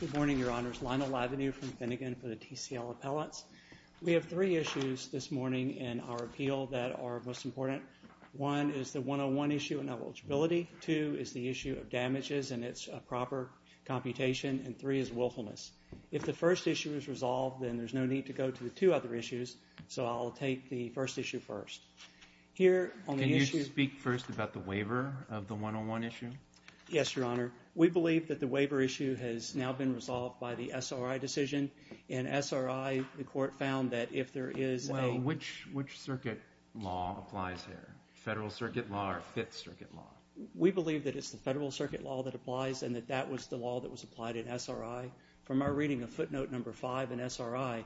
Good morning, Your Honors, Lionel Lavenue from Finnegan for the TCL Appellates. We have three issues this morning in our appeal that are most important. One is the 101 issue of eligibility, two is the issue of damages and it's a proper computation and three is willfulness. If the first issue is resolved, then there's no need to go to the two other issues, so I'll take the first issue first. Can you speak first about the waiver of the 101 issue? Yes, Your Honor. We believe that the waiver issue has now been resolved by the SRI decision. In SRI, the court found that if there is a... Well, which circuit law applies here, Federal Circuit Law or Fifth Circuit Law? We believe that it's the Federal Circuit Law that applies and that that was the law that was applied in SRI. From our reading of footnote number five in SRI,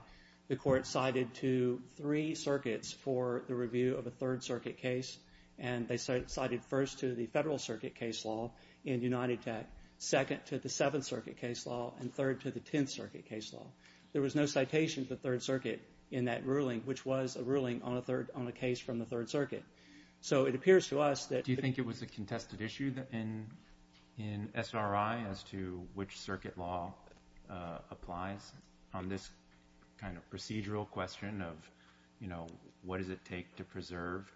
the court cited to three circuits for the review of a Third Circuit case and they cited first to the Federal Circuit case law in United Tech, second to the Seventh Circuit case law, and third to the Tenth Circuit case law. There was no citation to the Third Circuit in that ruling, which was a ruling on a case from the Third Circuit. So it appears to us that... Do you think it was a contested issue in SRI as to which circuit law applies on this kind of procedural question of, you know, what does it take to preserve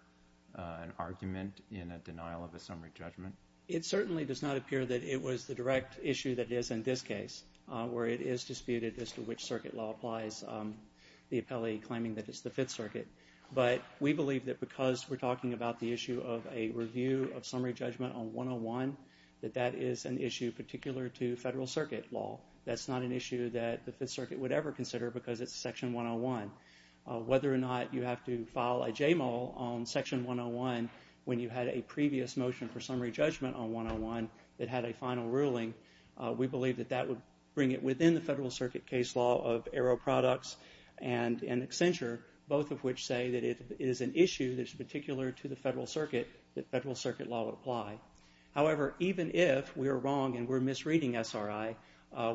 an argument in a denial of a summary judgment? It certainly does not appear that it was the direct issue that is in this case, where it is disputed as to which circuit law applies, the appellee claiming that it's the Fifth Circuit. But we believe that because we're talking about the issue of a review of summary judgment on 101, that that is an issue particular to Federal Circuit Law. That's not an issue that the Fifth Circuit would ever consider because it's Section 101. Whether or not you have to file a JMOL on Section 101 when you had a previous motion for summary judgment on 101 that had a final ruling, we believe that that would bring it within the Federal Circuit case law of Arrow Products and Accenture, both of which say that it is an issue that's particular to the Federal Circuit, that Federal Circuit Law would apply. However, even if we're wrong and we're misreading SRI,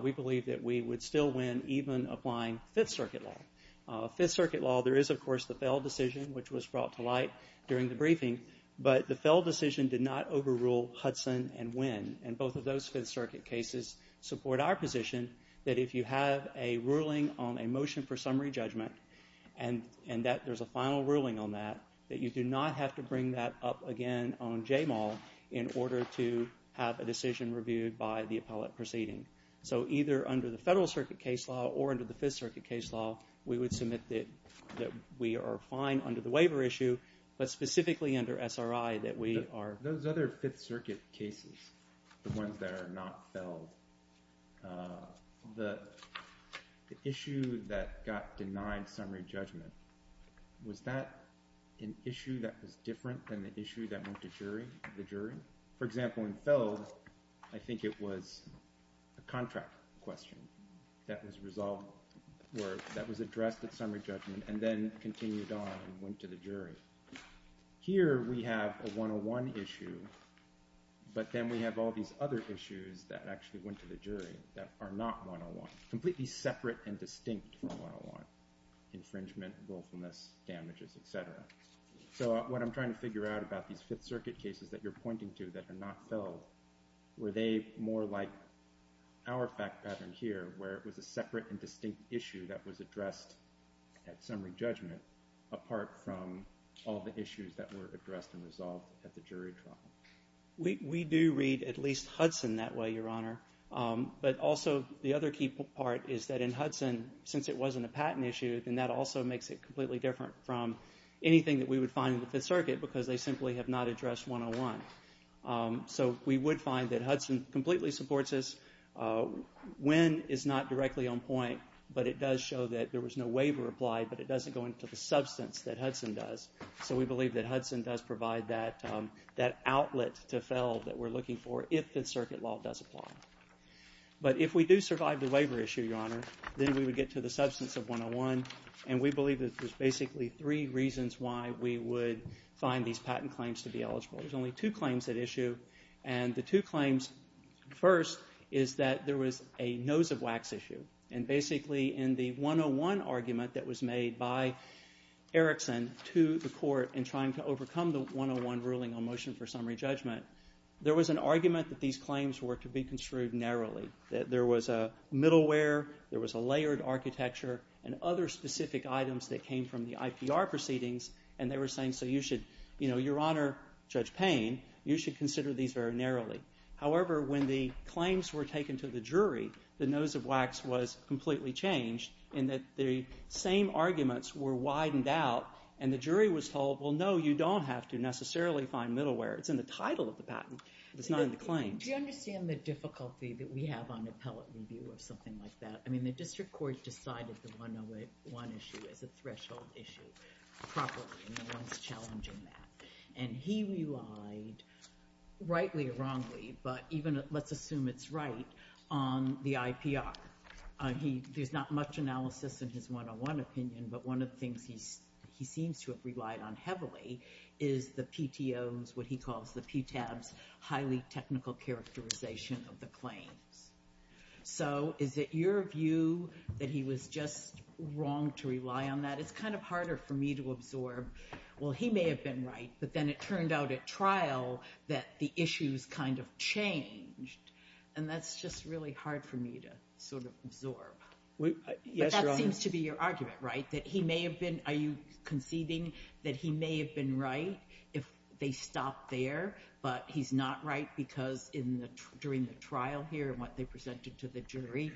we believe that we would still win even applying Fifth Circuit Law. Fifth Circuit Law, there is, of course, the Fell decision, which was brought to light during the briefing, but the Fell decision did not overrule Hudson and Winn, and both of those Fifth Circuit cases support our position that if you have a ruling on a motion for summary judgment and that there's a final ruling on that, that you do not have to bring that up again on JMOL in order to have a decision reviewed by the appellate proceeding. So either under the Federal Circuit case law or under the Fifth Circuit case law, we would submit that we are fine under the waiver issue, but specifically under SRI that we are... Those other Fifth Circuit cases, the ones that are not Fell, the issue that got denied summary judgment, was that an issue that was different than the issue that went to the jury? For example, in Fell, I think it was a contract question that was resolved or that was addressed at summary judgment and then continued on and went to the jury. Here we have a 101 issue, but then we have all these other issues that actually went to the jury that are not 101, completely separate and distinct from 101, infringement, willfulness, damages, et cetera. So what I'm trying to figure out about these Fifth Circuit cases that you're pointing to that are not Fell, were they more like our fact pattern here where it was a separate and distinct issue that was addressed at summary judgment apart from all the issues that were addressed and resolved at the jury trial? We do read at least Hudson that way, Your Honor. But also the other key part is that in Hudson, since it wasn't a patent issue, then that also makes it completely different from anything that we would find in the Fifth Circuit because they simply have not addressed 101. So we would find that Hudson completely supports this. When is not directly on point, but it does show that there was no waiver applied, but it doesn't go into the substance that Hudson does. So we believe that Hudson does provide that outlet to Fell that we're looking for if the Fifth Circuit law does apply. But if we do survive the waiver issue, Your Honor, then we would get to the substance of 101, and we believe that there's basically three reasons why we would find these patent claims to be eligible. There's only two claims at issue, and the two claims first is that there was a nose of wax issue. And basically in the 101 argument that was made by Erickson to the court in trying to overcome the 101 ruling on motion for summary judgment, there was an argument that these claims were to be construed narrowly, that there was a middleware, there was a layered architecture, and other specific items that came from the IPR proceedings, and they were saying, so you should, Your Honor, Judge Payne, you should consider these very narrowly. However, when the claims were taken to the jury, the nose of wax was completely changed in that the same arguments were widened out, and the jury was told, well, no, you don't have to necessarily find middleware. It's in the title of the patent. It's not in the claims. Do you understand the difficulty that we have on appellate review of something like that? I mean, the district court decided the 101 issue as a threshold issue properly, and no one's challenging that. And he relied, rightly or wrongly, but even let's assume it's right, on the IPR. There's not much analysis in his 101 opinion, but one of the things he seems to have relied on heavily is the PTO's, what he calls the PTAB's, highly technical characterization of the claims. So is it your view that he was just wrong to rely on that? It's kind of harder for me to absorb. Well, he may have been right, but then it turned out at trial that the issues kind of changed, and that's just really hard for me to sort of absorb. But that seems to be your argument, right, that he may have been – are you conceding that he may have been right if they stopped there, but he's not right because during the trial here and what they presented to the jury,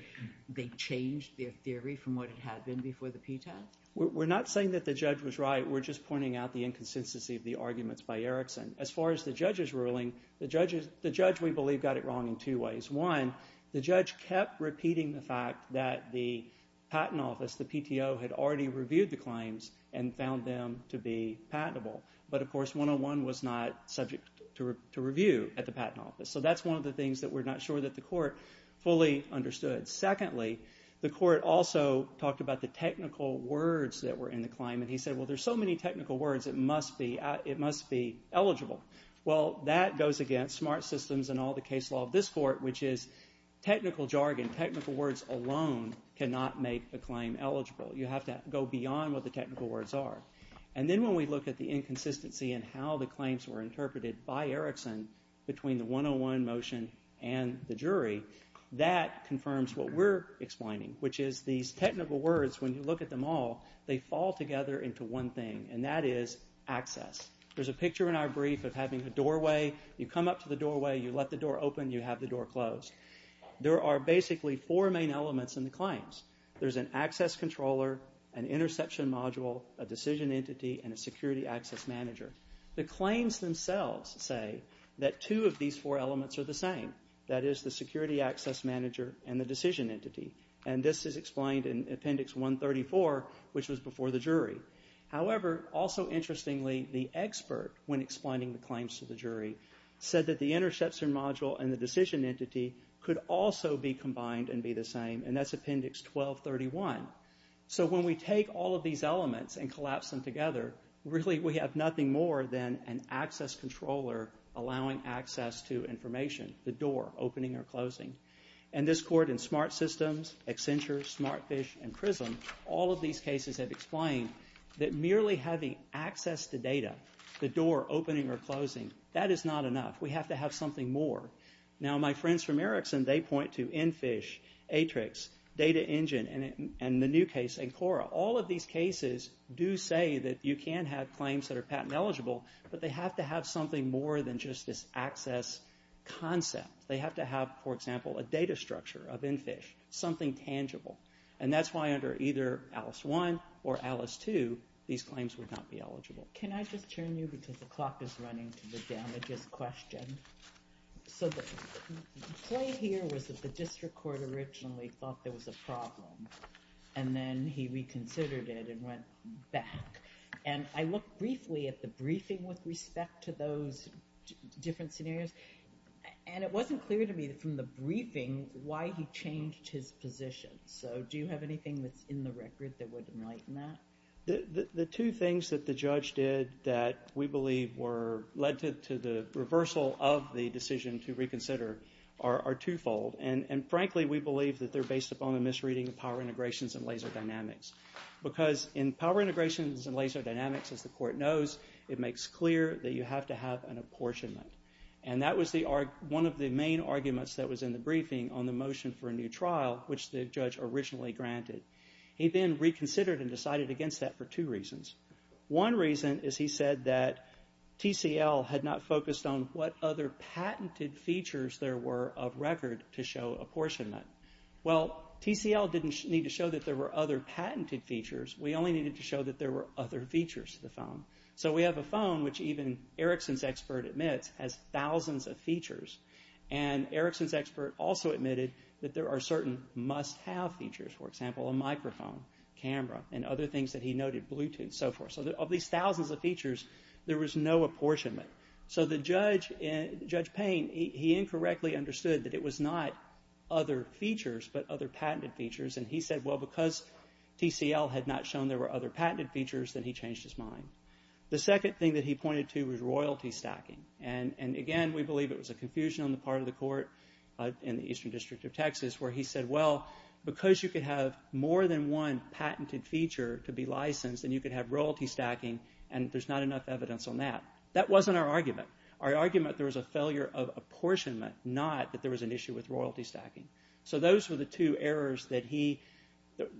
they changed their theory from what it had been before the PTAB? We're not saying that the judge was right. We're just pointing out the inconsistency of the arguments by Erickson. As far as the judge's ruling, the judge, we believe, got it wrong in two ways. One, the judge kept repeating the fact that the patent office, the PTO, had already reviewed the claims and found them to be patentable. But, of course, 101 was not subject to review at the patent office. So that's one of the things that we're not sure that the court fully understood. Secondly, the court also talked about the technical words that were in the claim, and he said, well, there's so many technical words, it must be eligible. Well, that goes against smart systems and all the case law of this court, which is technical jargon, technical words alone cannot make a claim eligible. You have to go beyond what the technical words are. And then when we look at the inconsistency in how the claims were interpreted by Erickson between the 101 motion and the jury, that confirms what we're explaining, which is these technical words, when you look at them all, they fall together into one thing, and that is access. There's a picture in our brief of having a doorway. You come up to the doorway, you let the door open, you have the door closed. There are basically four main elements in the claims. There's an access controller, an interception module, a decision entity, and a security access manager. The claims themselves say that two of these four elements are the same, that is the security access manager and the decision entity. And this is explained in Appendix 134, which was before the jury. However, also interestingly, the expert, when explaining the claims to the jury, said that the interception module and the decision entity could also be combined and be the same, and that's Appendix 1231. So when we take all of these elements and collapse them together, really we have nothing more than an access controller allowing access to information, the door opening or closing. And this court in Smart Systems, Accenture, Smartfish, and Prism, all of these cases have explained that merely having access to data, the door opening or closing, that is not enough. We have to have something more. Now my friends from Ericsson, they point to Enfish, Atrix, Data Engine, and the new case, Ancora. All of these cases do say that you can have claims that are patent eligible, but they have to have something more than just this access concept. They have to have, for example, a data structure of Enfish, something tangible. And that's why under either Alice 1 or Alice 2, these claims would not be eligible. Can I just turn you, because the clock is running to the damages question. So the play here was that the district court originally thought there was a problem, and then he reconsidered it and went back. And I looked briefly at the briefing with respect to those different scenarios, and it wasn't clear to me from the briefing why he changed his position. So do you have anything that's in the record that would enlighten that? The two things that the judge did that we believe led to the reversal of the decision to reconsider are twofold, and frankly, we believe that they're based upon a misreading of power integrations and laser dynamics. Because in power integrations and laser dynamics, as the court knows, it makes clear that you have to have an apportionment. And that was one of the main arguments that was in the briefing on the motion for a new trial, which the judge originally granted. He then reconsidered and decided against that for two reasons. One reason is he said that TCL had not focused on what other patented features there were of record to show apportionment. Well, TCL didn't need to show that there were other patented features. We only needed to show that there were other features to the phone. So we have a phone, which even Erickson's expert admits has thousands of features. And Erickson's expert also admitted that there are certain must-have features, for example, a microphone, camera, and other things that he noted, Bluetooth, and so forth. So of these thousands of features, there was no apportionment. So Judge Payne, he incorrectly understood that it was not other features but other patented features, and he said, well, because TCL had not shown there were other patented features, then he changed his mind. The second thing that he pointed to was royalty stacking. And, again, we believe it was a confusion on the part of the court in the Eastern District of Texas where he said, well, because you could have more than one patented feature to be licensed, then you could have royalty stacking, and there's not enough evidence on that. That wasn't our argument. Our argument, there was a failure of apportionment, not that there was an issue with royalty stacking. So those were the two errors that he,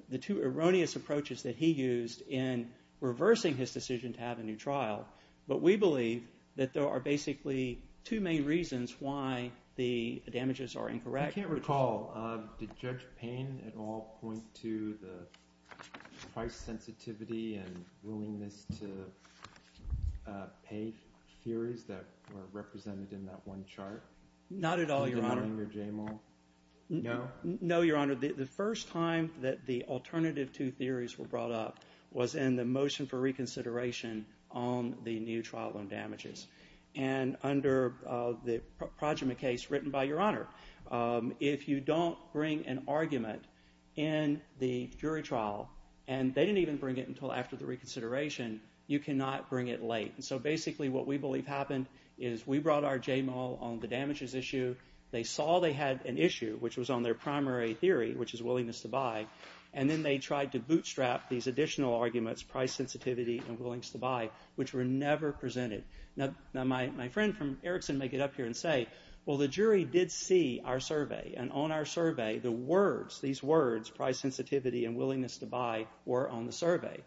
the two erroneous approaches that he used in reversing his decision to have a new trial. But we believe that there are basically two main reasons why the damages are incorrect. I can't recall. Did Judge Payne at all point to the price sensitivity and willingness to pay theories that were represented in that one chart? Not at all, Your Honor. Did Ellinger Jamel? No. No, Your Honor. The first time that the alternative two theories were brought up was in the motion for reconsideration on the new trial on damages. And under the Projima case written by Your Honor, if you don't bring an argument in the jury trial, and they didn't even bring it until after the reconsideration, you cannot bring it late. So basically what we believe happened is we brought our Jamel on the damages issue. They saw they had an issue, which was on their primary theory, which is willingness to buy. And then they tried to bootstrap these additional arguments, price sensitivity and willingness to buy, which were never presented. Now, my friend from Erickson may get up here and say, well, the jury did see our survey. And on our survey, the words, these words, price sensitivity and willingness to buy, were on the survey.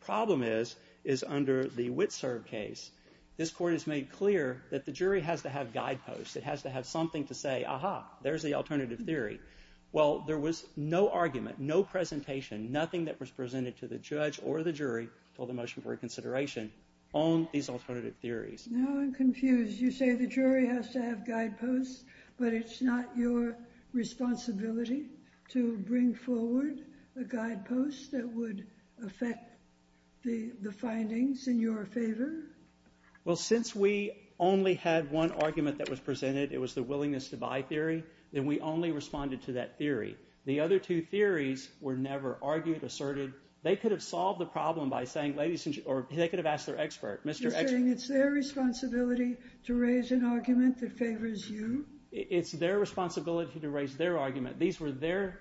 Problem is, is under the Witserv case, this court has made clear that the jury has to have guideposts. It has to have something to say, aha, there's the alternative theory. Well, there was no argument, no presentation, nothing that was presented to the judge or the jury until the motion for reconsideration on these alternative theories. Now I'm confused. You say the jury has to have guideposts, but it's not your responsibility to bring forward a guidepost that would affect the findings in your favor? Well, since we only had one argument that was presented, it was the willingness to buy theory, then we only responded to that theory. The other two theories were never argued, asserted. They could have solved the problem by saying, ladies and gentlemen, or they could have asked their expert. You're saying it's their responsibility to raise an argument that favors you? It's their responsibility to raise their argument. These were their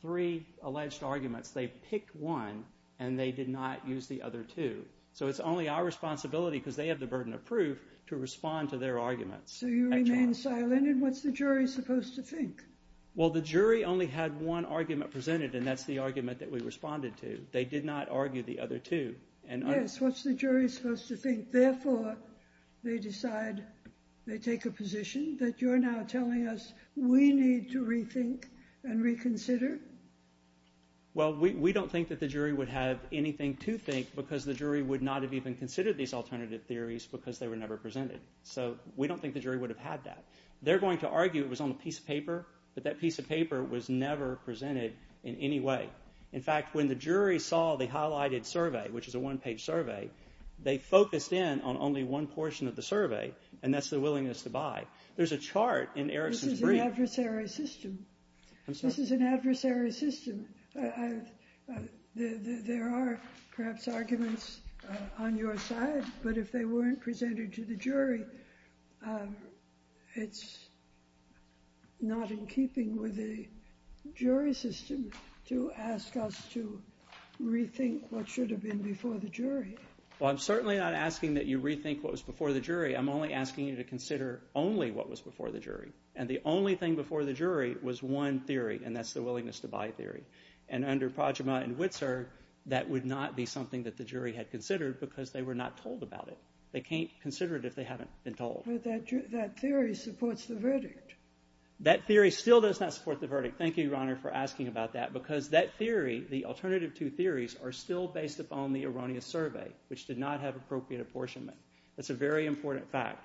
three alleged arguments. They picked one, and they did not use the other two. So it's only our responsibility, because they have the burden of proof, to respond to their arguments. So you remain silent, and what's the jury supposed to think? Well, the jury only had one argument presented, and that's the argument that we responded to. They did not argue the other two. Yes, what's the jury supposed to think? Therefore, they decide, they take a position that you're now telling us we need to rethink and reconsider? Well, we don't think that the jury would have anything to think, because the jury would not have even considered these alternative theories because they were never presented. So we don't think the jury would have had that. They're going to argue it was on a piece of paper, but that piece of paper was never presented in any way. In fact, when the jury saw the highlighted survey, which is a one-page survey, they focused in on only one portion of the survey, and that's the willingness to buy. There's a chart in Erickson's brief. This is an adversary system. I'm sorry? This is an adversary system. There are perhaps arguments on your side, but if they weren't presented to the jury, it's not in keeping with the jury system to ask us to rethink what should have been before the jury. Well, I'm certainly not asking that you rethink what was before the jury. I'm only asking you to consider only what was before the jury, and the only thing before the jury was one theory, and that's the willingness to buy theory. And under Projima and Witzer, that would not be something that the jury had considered because they were not told about it. They can't consider it if they haven't been told. But that theory supports the verdict. That theory still does not support the verdict. Thank you, Your Honor, for asking about that, because that theory, the alternative two theories, are still based upon the erroneous survey, which did not have appropriate apportionment. That's a very important fact.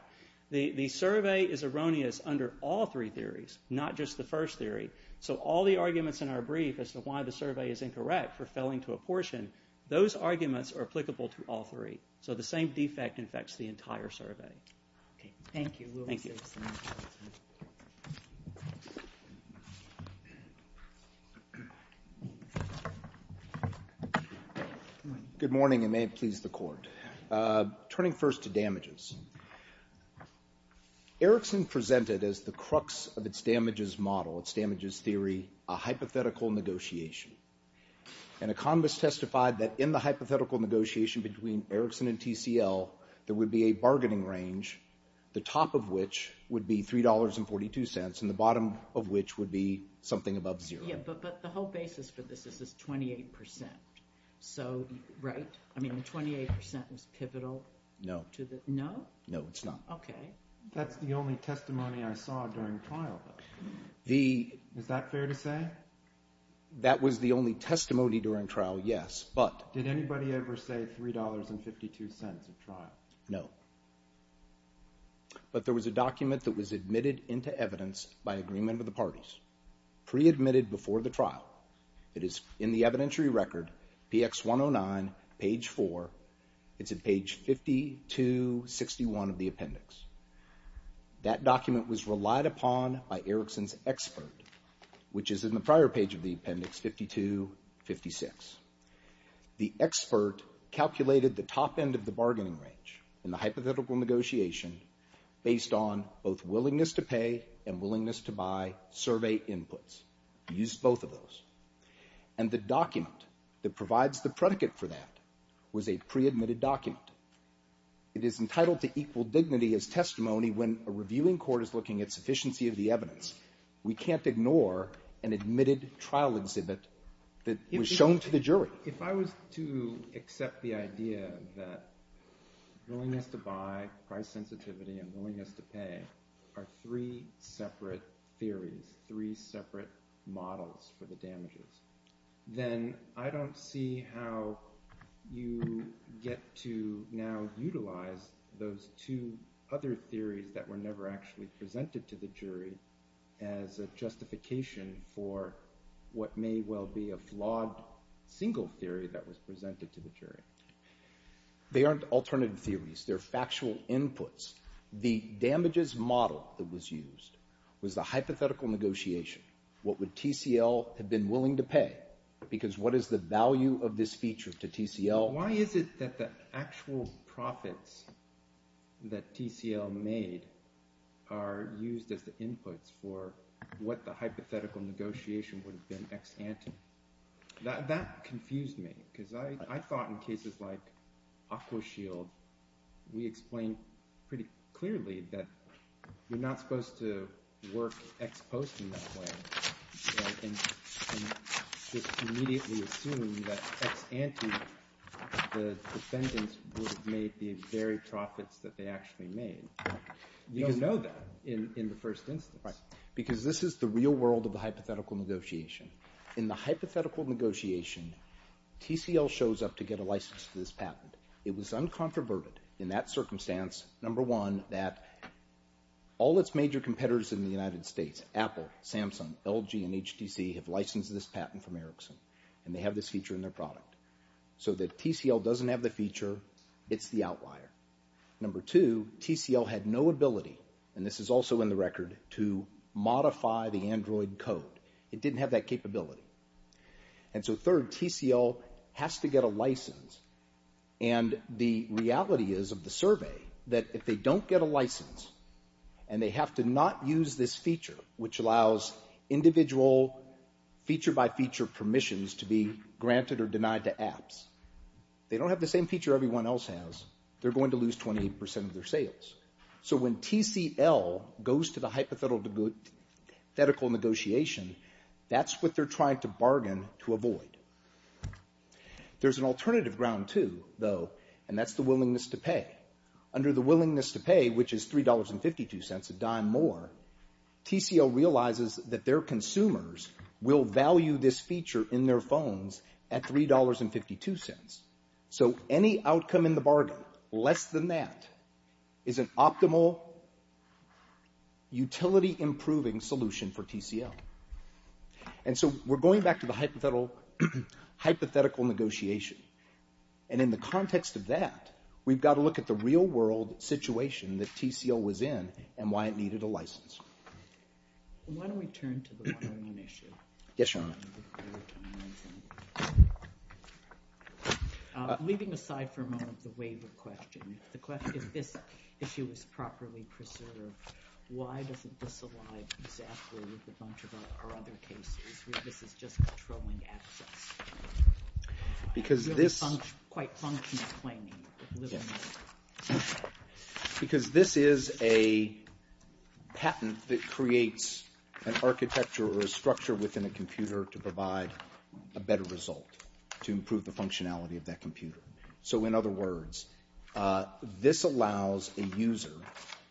The survey is erroneous under all three theories, not just the first theory, so all the arguments in our brief as to why the survey is incorrect for failing to apportion, those arguments are applicable to all three. So the same defect affects the entire survey. Thank you. Good morning, and may it please the Court. Turning first to damages. Erickson presented as the crux of its damages model, its damages theory, a hypothetical negotiation. An economist testified that in the hypothetical negotiation between Erickson and TCL, there would be a bargaining range, the top of which would be $3.42, and the bottom of which would be something above zero. Yeah, but the whole basis for this is this 28%. So, right? I mean, the 28% is pivotal to the... No. No? No, it's not. Okay. That's the only testimony I saw during trial. Is that fair to say? That was the only testimony during trial, yes, but... Did anybody ever say $3.52 at trial? No. But there was a document that was admitted into evidence by agreement of the parties, pre-admitted before the trial. It is in the evidentiary record, PX 109, page 4. It's at page 5261 of the appendix. That document was relied upon by Erickson's expert, which is in the prior page of the appendix, 5256. The expert calculated the top end of the bargaining range in the hypothetical negotiation based on both willingness to pay and willingness to buy survey inputs. He used both of those. And the document that provides the predicate for that was a pre-admitted document. It is entitled to equal dignity as testimony when a reviewing court is looking at sufficiency of the evidence. We can't ignore an admitted trial exhibit that was shown to the jury. If I was to accept the idea that willingness to buy, price sensitivity, and willingness to pay are three separate theories, three separate models for the damages, then I don't see how you get to now utilize those two other theories that were never actually presented to the jury as a justification for what may well be a flawed single theory that was presented to the jury. They aren't alternative theories. They're factual inputs. The damages model that was used was the hypothetical negotiation. What would TCL have been willing to pay? Because what is the value of this feature to TCL? Why is it that the actual profits that TCL made are used as the inputs for what the hypothetical negotiation would have been ex ante? That confused me, because I thought in cases like Aquashield, we explained pretty clearly that you're not supposed to work ex post in that way and just immediately assume that ex ante, the defendants would have made the very profits that they actually made. You don't know that in the first instance. Right. Because this is the real world of the hypothetical negotiation. In the hypothetical negotiation, TCL shows up to get a license for this patent. It was uncontroverted in that circumstance, number one, that all its major competitors in the United States, Apple, Samsung, LG, and HTC, have licensed this patent from Ericsson, and they have this feature in their product. So that TCL doesn't have the feature. It's the outlier. Number two, TCL had no ability, and this is also in the record, to modify the Android code. It didn't have that capability. And so third, TCL has to get a license, and the reality is of the survey that if they don't get a license and they have to not use this feature, which allows individual feature-by-feature permissions to be granted or denied to apps, they don't have the same feature everyone else has, they're going to lose 28% of their sales. So when TCL goes to the hypothetical negotiation, that's what they're trying to bargain to avoid. There's an alternative ground, too, though, and that's the willingness to pay. Under the willingness to pay, which is $3.52 a dime more, TCL realizes that their consumers will value this feature in their phones at $3.52. So any outcome in the bargain less than that is an optimal utility-improving solution for TCL. And so we're going back to the hypothetical negotiation, and in the context of that, we've got to look at the real-world situation that TCL was in and why it needed a license. Why don't we turn to the volume issue? Yes, Your Honor. Leaving aside for a moment the waiver question, if this issue is properly preserved, why doesn't this align exactly with a bunch of our other cases where this is just controlling access? Because this... Quite functional claiming. Yes. Because this is a patent that creates an architecture or a structure within a computer to provide a better result to improve the functionality of that computer. So in other words, this allows a user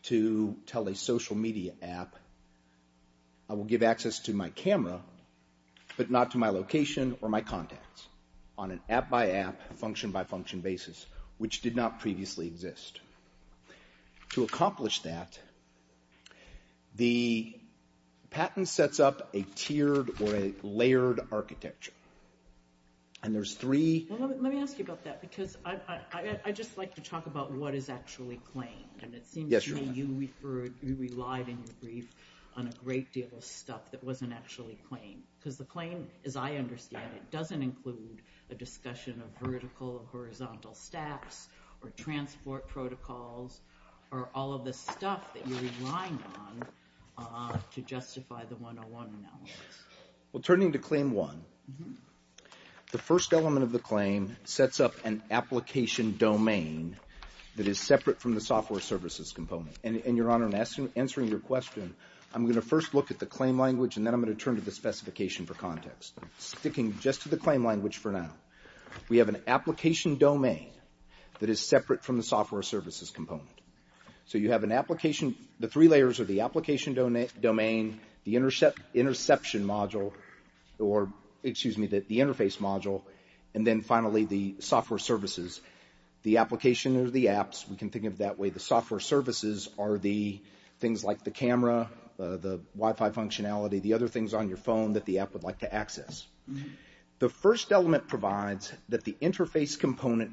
to tell a social media app, I will give access to my camera, but not to my location or my contacts, on an app-by-app, function-by-function basis, which did not previously exist. To accomplish that, the patent sets up a tiered or a layered architecture. And there's three... I'd just like to talk about what is actually claimed. And it seems to me you relied in your brief on a great deal of stuff that wasn't actually claimed. Because the claim, as I understand it, doesn't include a discussion of vertical or horizontal stacks or transport protocols or all of the stuff that you're relying on to justify the 101 analysis. Well, turning to claim one, the first element of the claim sets up an application domain that is separate from the software services component. And, Your Honor, in answering your question, I'm going to first look at the claim language, and then I'm going to turn to the specification for context. Sticking just to the claim language for now. We have an application domain that is separate from the software services component. So you have an application... The three layers are the application domain, the interception module, or, excuse me, the interface module, and then, finally, the software services. The application are the apps. We can think of it that way. The software services are the things like the camera, the Wi-Fi functionality, the other things on your phone that the app would like to access. The first element provides that the interface component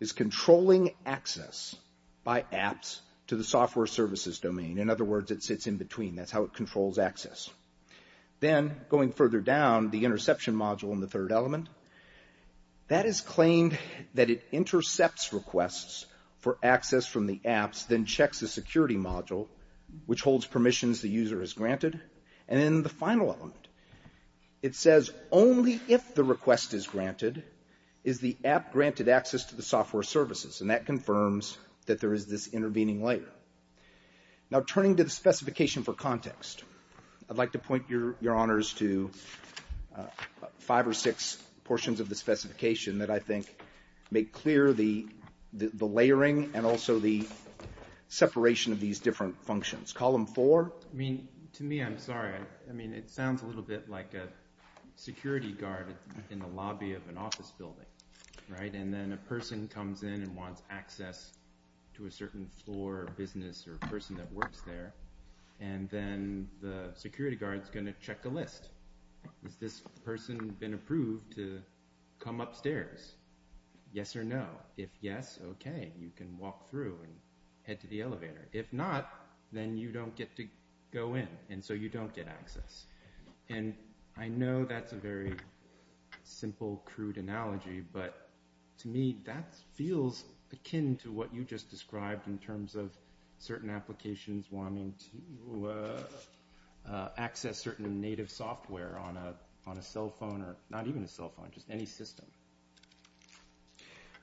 is controlling access by apps to the software services domain. In other words, it sits in between. That's how it controls access. Then, going further down, the interception module in the third element, that is claimed that it intercepts requests for access from the apps, then checks the security module, which holds permissions the user has granted. And then the final element, it says only if the request is granted is the app granted access to the software services, and that confirms that there is this intervening layer. Now, turning to the specification for context, I'd like to point your honors to five or six portions of the specification that I think make clear the layering and also the separation of these different functions. Column 4? I mean, to me, I'm sorry. I mean, it sounds a little bit like a security guard in the lobby of an office building, right? And then a person comes in and wants access to a certain floor, business, or person that works there, and then the security guard's going to check a list. Has this person been approved to come upstairs? Yes or no? If yes, okay, you can walk through and head to the elevator. If not, then you don't get to go in, and so you don't get access. And I know that's a very simple, crude analogy, but to me, that feels akin to what you just described in terms of certain applications wanting to access certain native software on a cell phone, or not even a cell phone, just any system.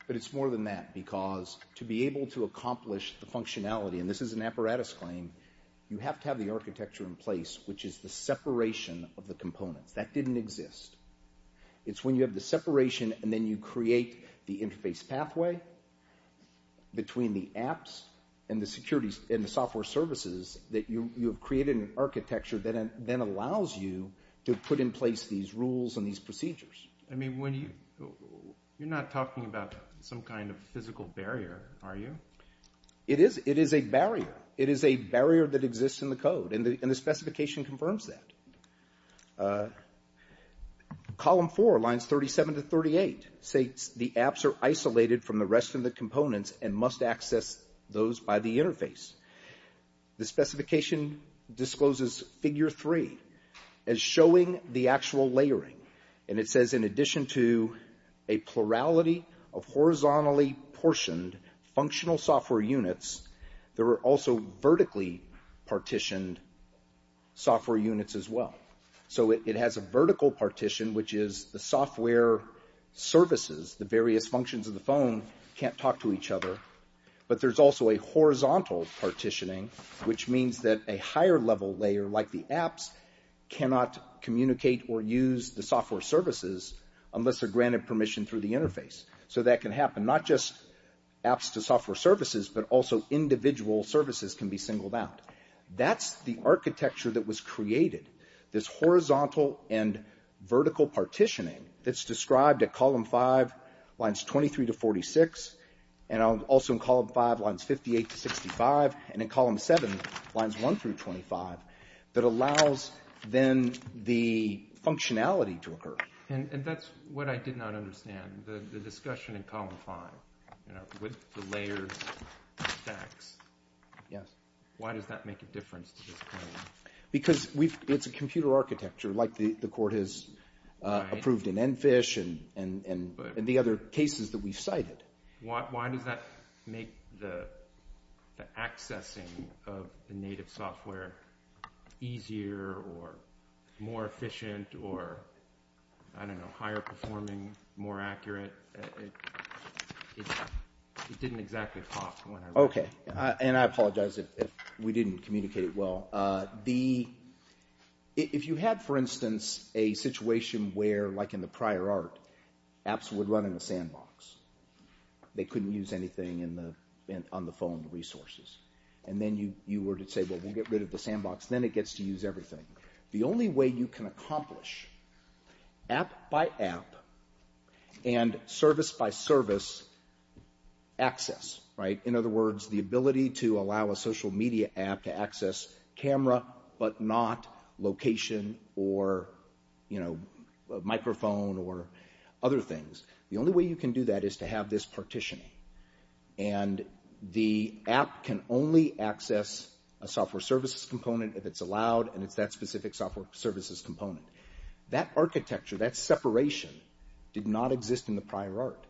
But it's more than that, because to be able to accomplish the functionality, and this is an apparatus claim, you have to have the architecture in place, which is the separation of the components. That didn't exist. It's when you have the separation, and then you create the interface pathway between the apps and the software services that you have created an architecture that then allows you to put in place these rules and these procedures. I mean, you're not talking about some kind of physical barrier, are you? It is a barrier. It is a barrier that exists in the code, and the specification confirms that. Column 4, lines 37 to 38, states the apps are isolated from the rest of the components and must access those by the interface. The specification discloses figure 3 as showing the actual layering, and it says in addition to a plurality of horizontally portioned functional software units, there are also vertically partitioned software units as well. So it has a vertical partition, which is the software services, the various functions of the phone, can't talk to each other, but there's also a horizontal partitioning, which means that a higher-level layer like the apps cannot communicate or use the software services unless they're granted permission through the interface. So that can happen, not just apps to software services, but also individual services can be singled out. That's the architecture that was created, this horizontal and vertical partitioning that's described at column 5, lines 23 to 46, and also in column 5, lines 58 to 65, and in column 7, lines 1 through 25, that allows then the functionality to occur. And that's what I did not understand, the discussion in column 5, with the layered stacks, why does that make a difference to this code? Because it's a computer architecture, like the court has approved in ENFISH and the other cases that we've cited. Why does that make the accessing of the native software easier or more efficient or, I don't know, higher-performing, more accurate? It didn't exactly pop when I read it. Okay, and I apologize if we didn't communicate it well. If you had, for instance, a situation where, like in the prior art, apps would run in a sandbox, they couldn't use anything on the phone resources, and then you were to say, well, we'll get rid of the sandbox, then it gets to use everything. The only way you can accomplish app by app and service by service access, right? In other words, the ability to allow a social media app to access camera but not location or, you know, microphone or other things. The only way you can do that is to have this partitioning. And the app can only access a software services component if it's allowed, and it's that specific software services component. That architecture, that separation, did not exist in the prior art.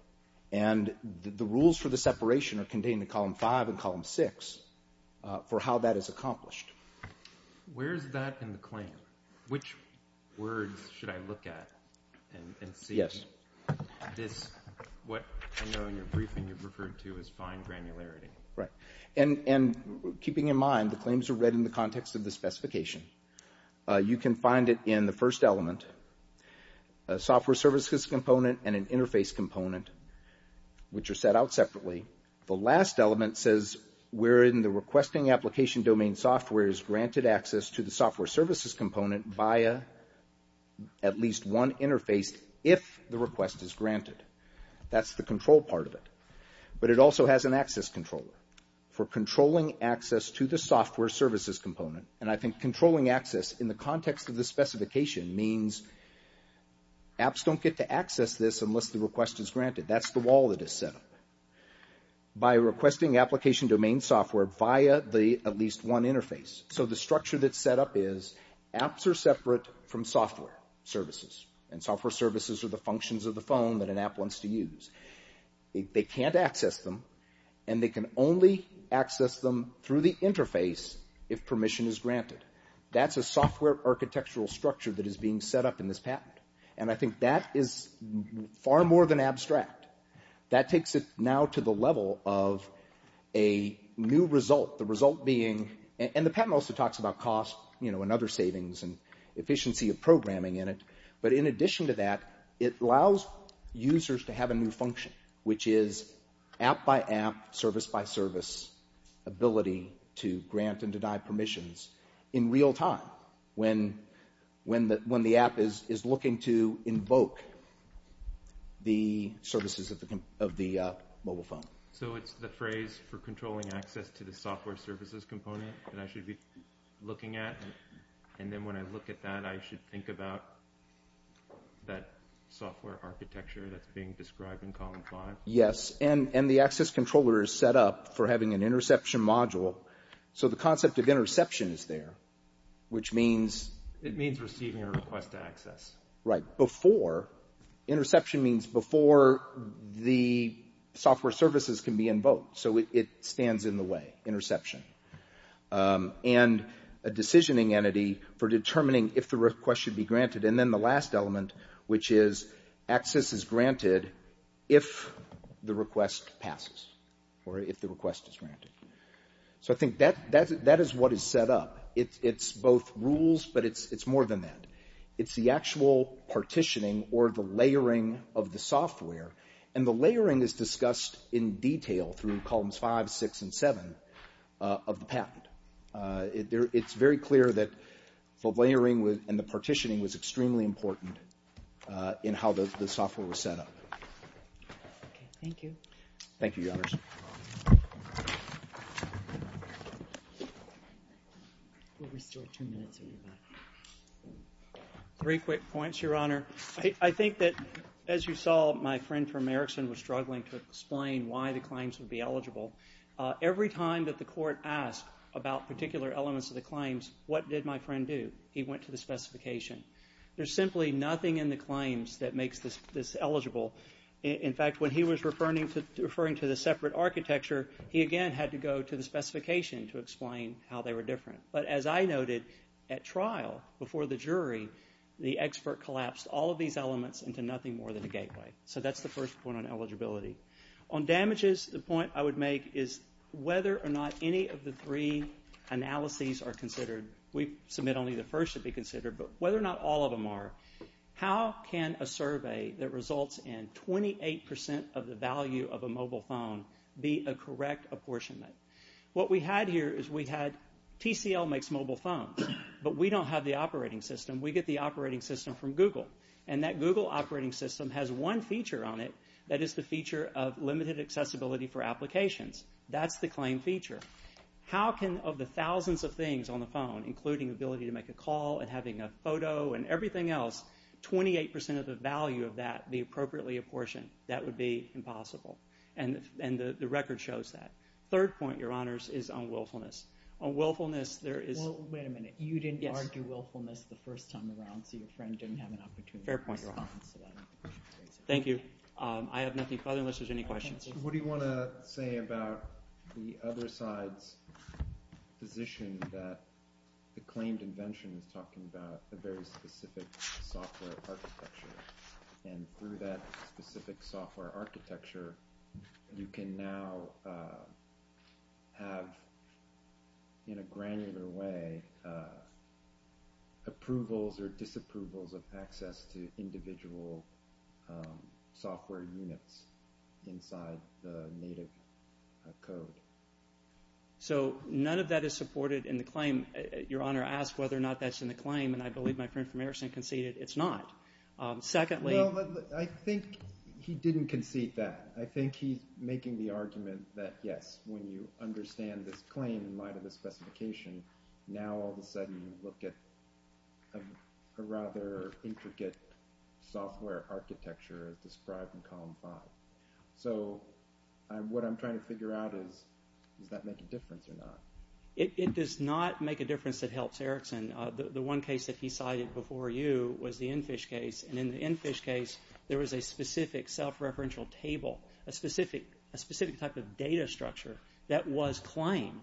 And the rules for the separation are contained in column 5 and column 6 for how that is accomplished. Where is that in the claim? Which words should I look at and see? Yes. This, what I know in your briefing you've referred to is fine granularity. Right. And keeping in mind, the claims are read in the context of the specification. You can find it in the first element, a software services component and an interface component, which are set out separately. The last element says we're in the requesting application domain software is granted access to the software services component via at least one interface if the request is granted. That's the control part of it. But it also has an access controller for controlling access to the software services component. And I think controlling access in the context of the specification means apps don't get to access this unless the request is granted. That's the wall that is set up. By requesting application domain software via the at least one interface. So the structure that's set up is apps are separate from software services. And software services are the functions of the phone that an app wants to use. They can't access them, and they can only access them through the interface if permission is granted. That's a software architectural structure that is being set up in this patent. And I think that is far more than abstract. That takes it now to the level of a new result. The result being... And the patent also talks about cost and other savings and efficiency of programming in it. But in addition to that, it allows users to have a new function, which is app-by-app, service-by-service ability to grant and deny permissions in real time when the app is looking to invoke the services of the mobile phone. So it's the phrase for controlling access to the software services component that I should be looking at. And then when I look at that, I should think about that software architecture that's being described in column five. Yes, and the access controller is set up for having an interception module. So the concept of interception is there, which means... It means receiving a request to access. Right. Before... Interception means before the software services can be invoked. So it stands in the way, interception. And a decisioning entity for determining if the request should be granted. And then the last element, which is access is granted if the request passes or if the request is granted. So I think that is what is set up. It's both rules, but it's more than that. It's the actual partitioning or the layering of the software. And the layering is discussed in detail through columns five, six, and seven of the patent. It's very clear that the layering and the partitioning was extremely important in how the software was set up. Okay, thank you. Thank you, Your Honors. We'll restore two minutes in the back. Three quick points, Your Honor. I think that, as you saw, my friend from Erickson was struggling to explain why the claims would be eligible. Every time that the court asked about particular elements of the claims, what did my friend do? He went to the specification. There's simply nothing in the claims that makes this eligible. In fact, when he was referring to the separate architecture, he again had to go to the specification to explain how they were different. But as I noted, at trial, before the jury, the expert collapsed all of these elements into nothing more than a gateway. So that's the first point on eligibility. On damages, the point I would make is whether or not any of the three analyses are considered. We submit only the first to be considered, but whether or not all of them are, how can a survey that results in 28% of the value of a mobile phone be a correct apportionment? What we had here is we had TCL makes mobile phones, but we don't have the operating system. We get the operating system from Google, and that Google operating system has one feature on it that is the feature of limited accessibility for applications. That's the claim feature. How can, of the thousands of things on the phone, including ability to make a call and having a photo and everything else, 28% of the value of that be appropriately apportioned? That would be impossible, and the record shows that. Third point, Your Honors, is on willfulness. On willfulness, there is... Well, wait a minute. You didn't argue willfulness the first time around, so your friend didn't have an opportunity. Fair point, Your Honors. Thank you. I have nothing further unless there's any questions. What do you want to say about the other side's position that the claimed invention is talking about a very specific software architecture, and through that specific software architecture, you can now have, in a granular way, approvals or disapprovals of access to individual software units inside the native code? So none of that is supported in the claim. Your Honor asked whether or not that's in the claim, and I believe my friend from Erickson conceded it's not. Secondly... No, I think he didn't concede that. I think he's making the argument that, yes, when you understand this claim in light of the specification, now all of a sudden you look at a rather intricate software architecture as described in column 5. So what I'm trying to figure out is does that make a difference or not? It does not make a difference that helps Erickson. The one case that he cited before you was the EnFish case, and in the EnFish case, there was a specific self-referential table, a specific type of data structure that was claimed.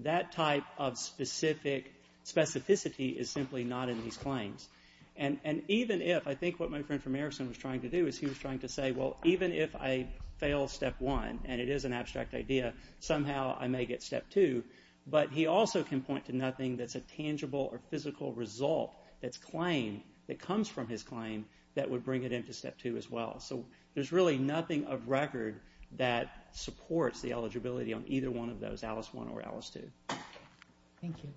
That type of specificity is simply not in these claims. And even if... I think what my friend from Erickson was trying to do is he was trying to say, well, even if I fail step 1, and it is an abstract idea, somehow I may get step 2, but he also can point to nothing that's a tangible or physical result that's claimed that comes from his claim that would bring it into step 2 as well. So there's really nothing of record that supports the eligibility on either one of those, Alice 1 or Alice 2. Thank you.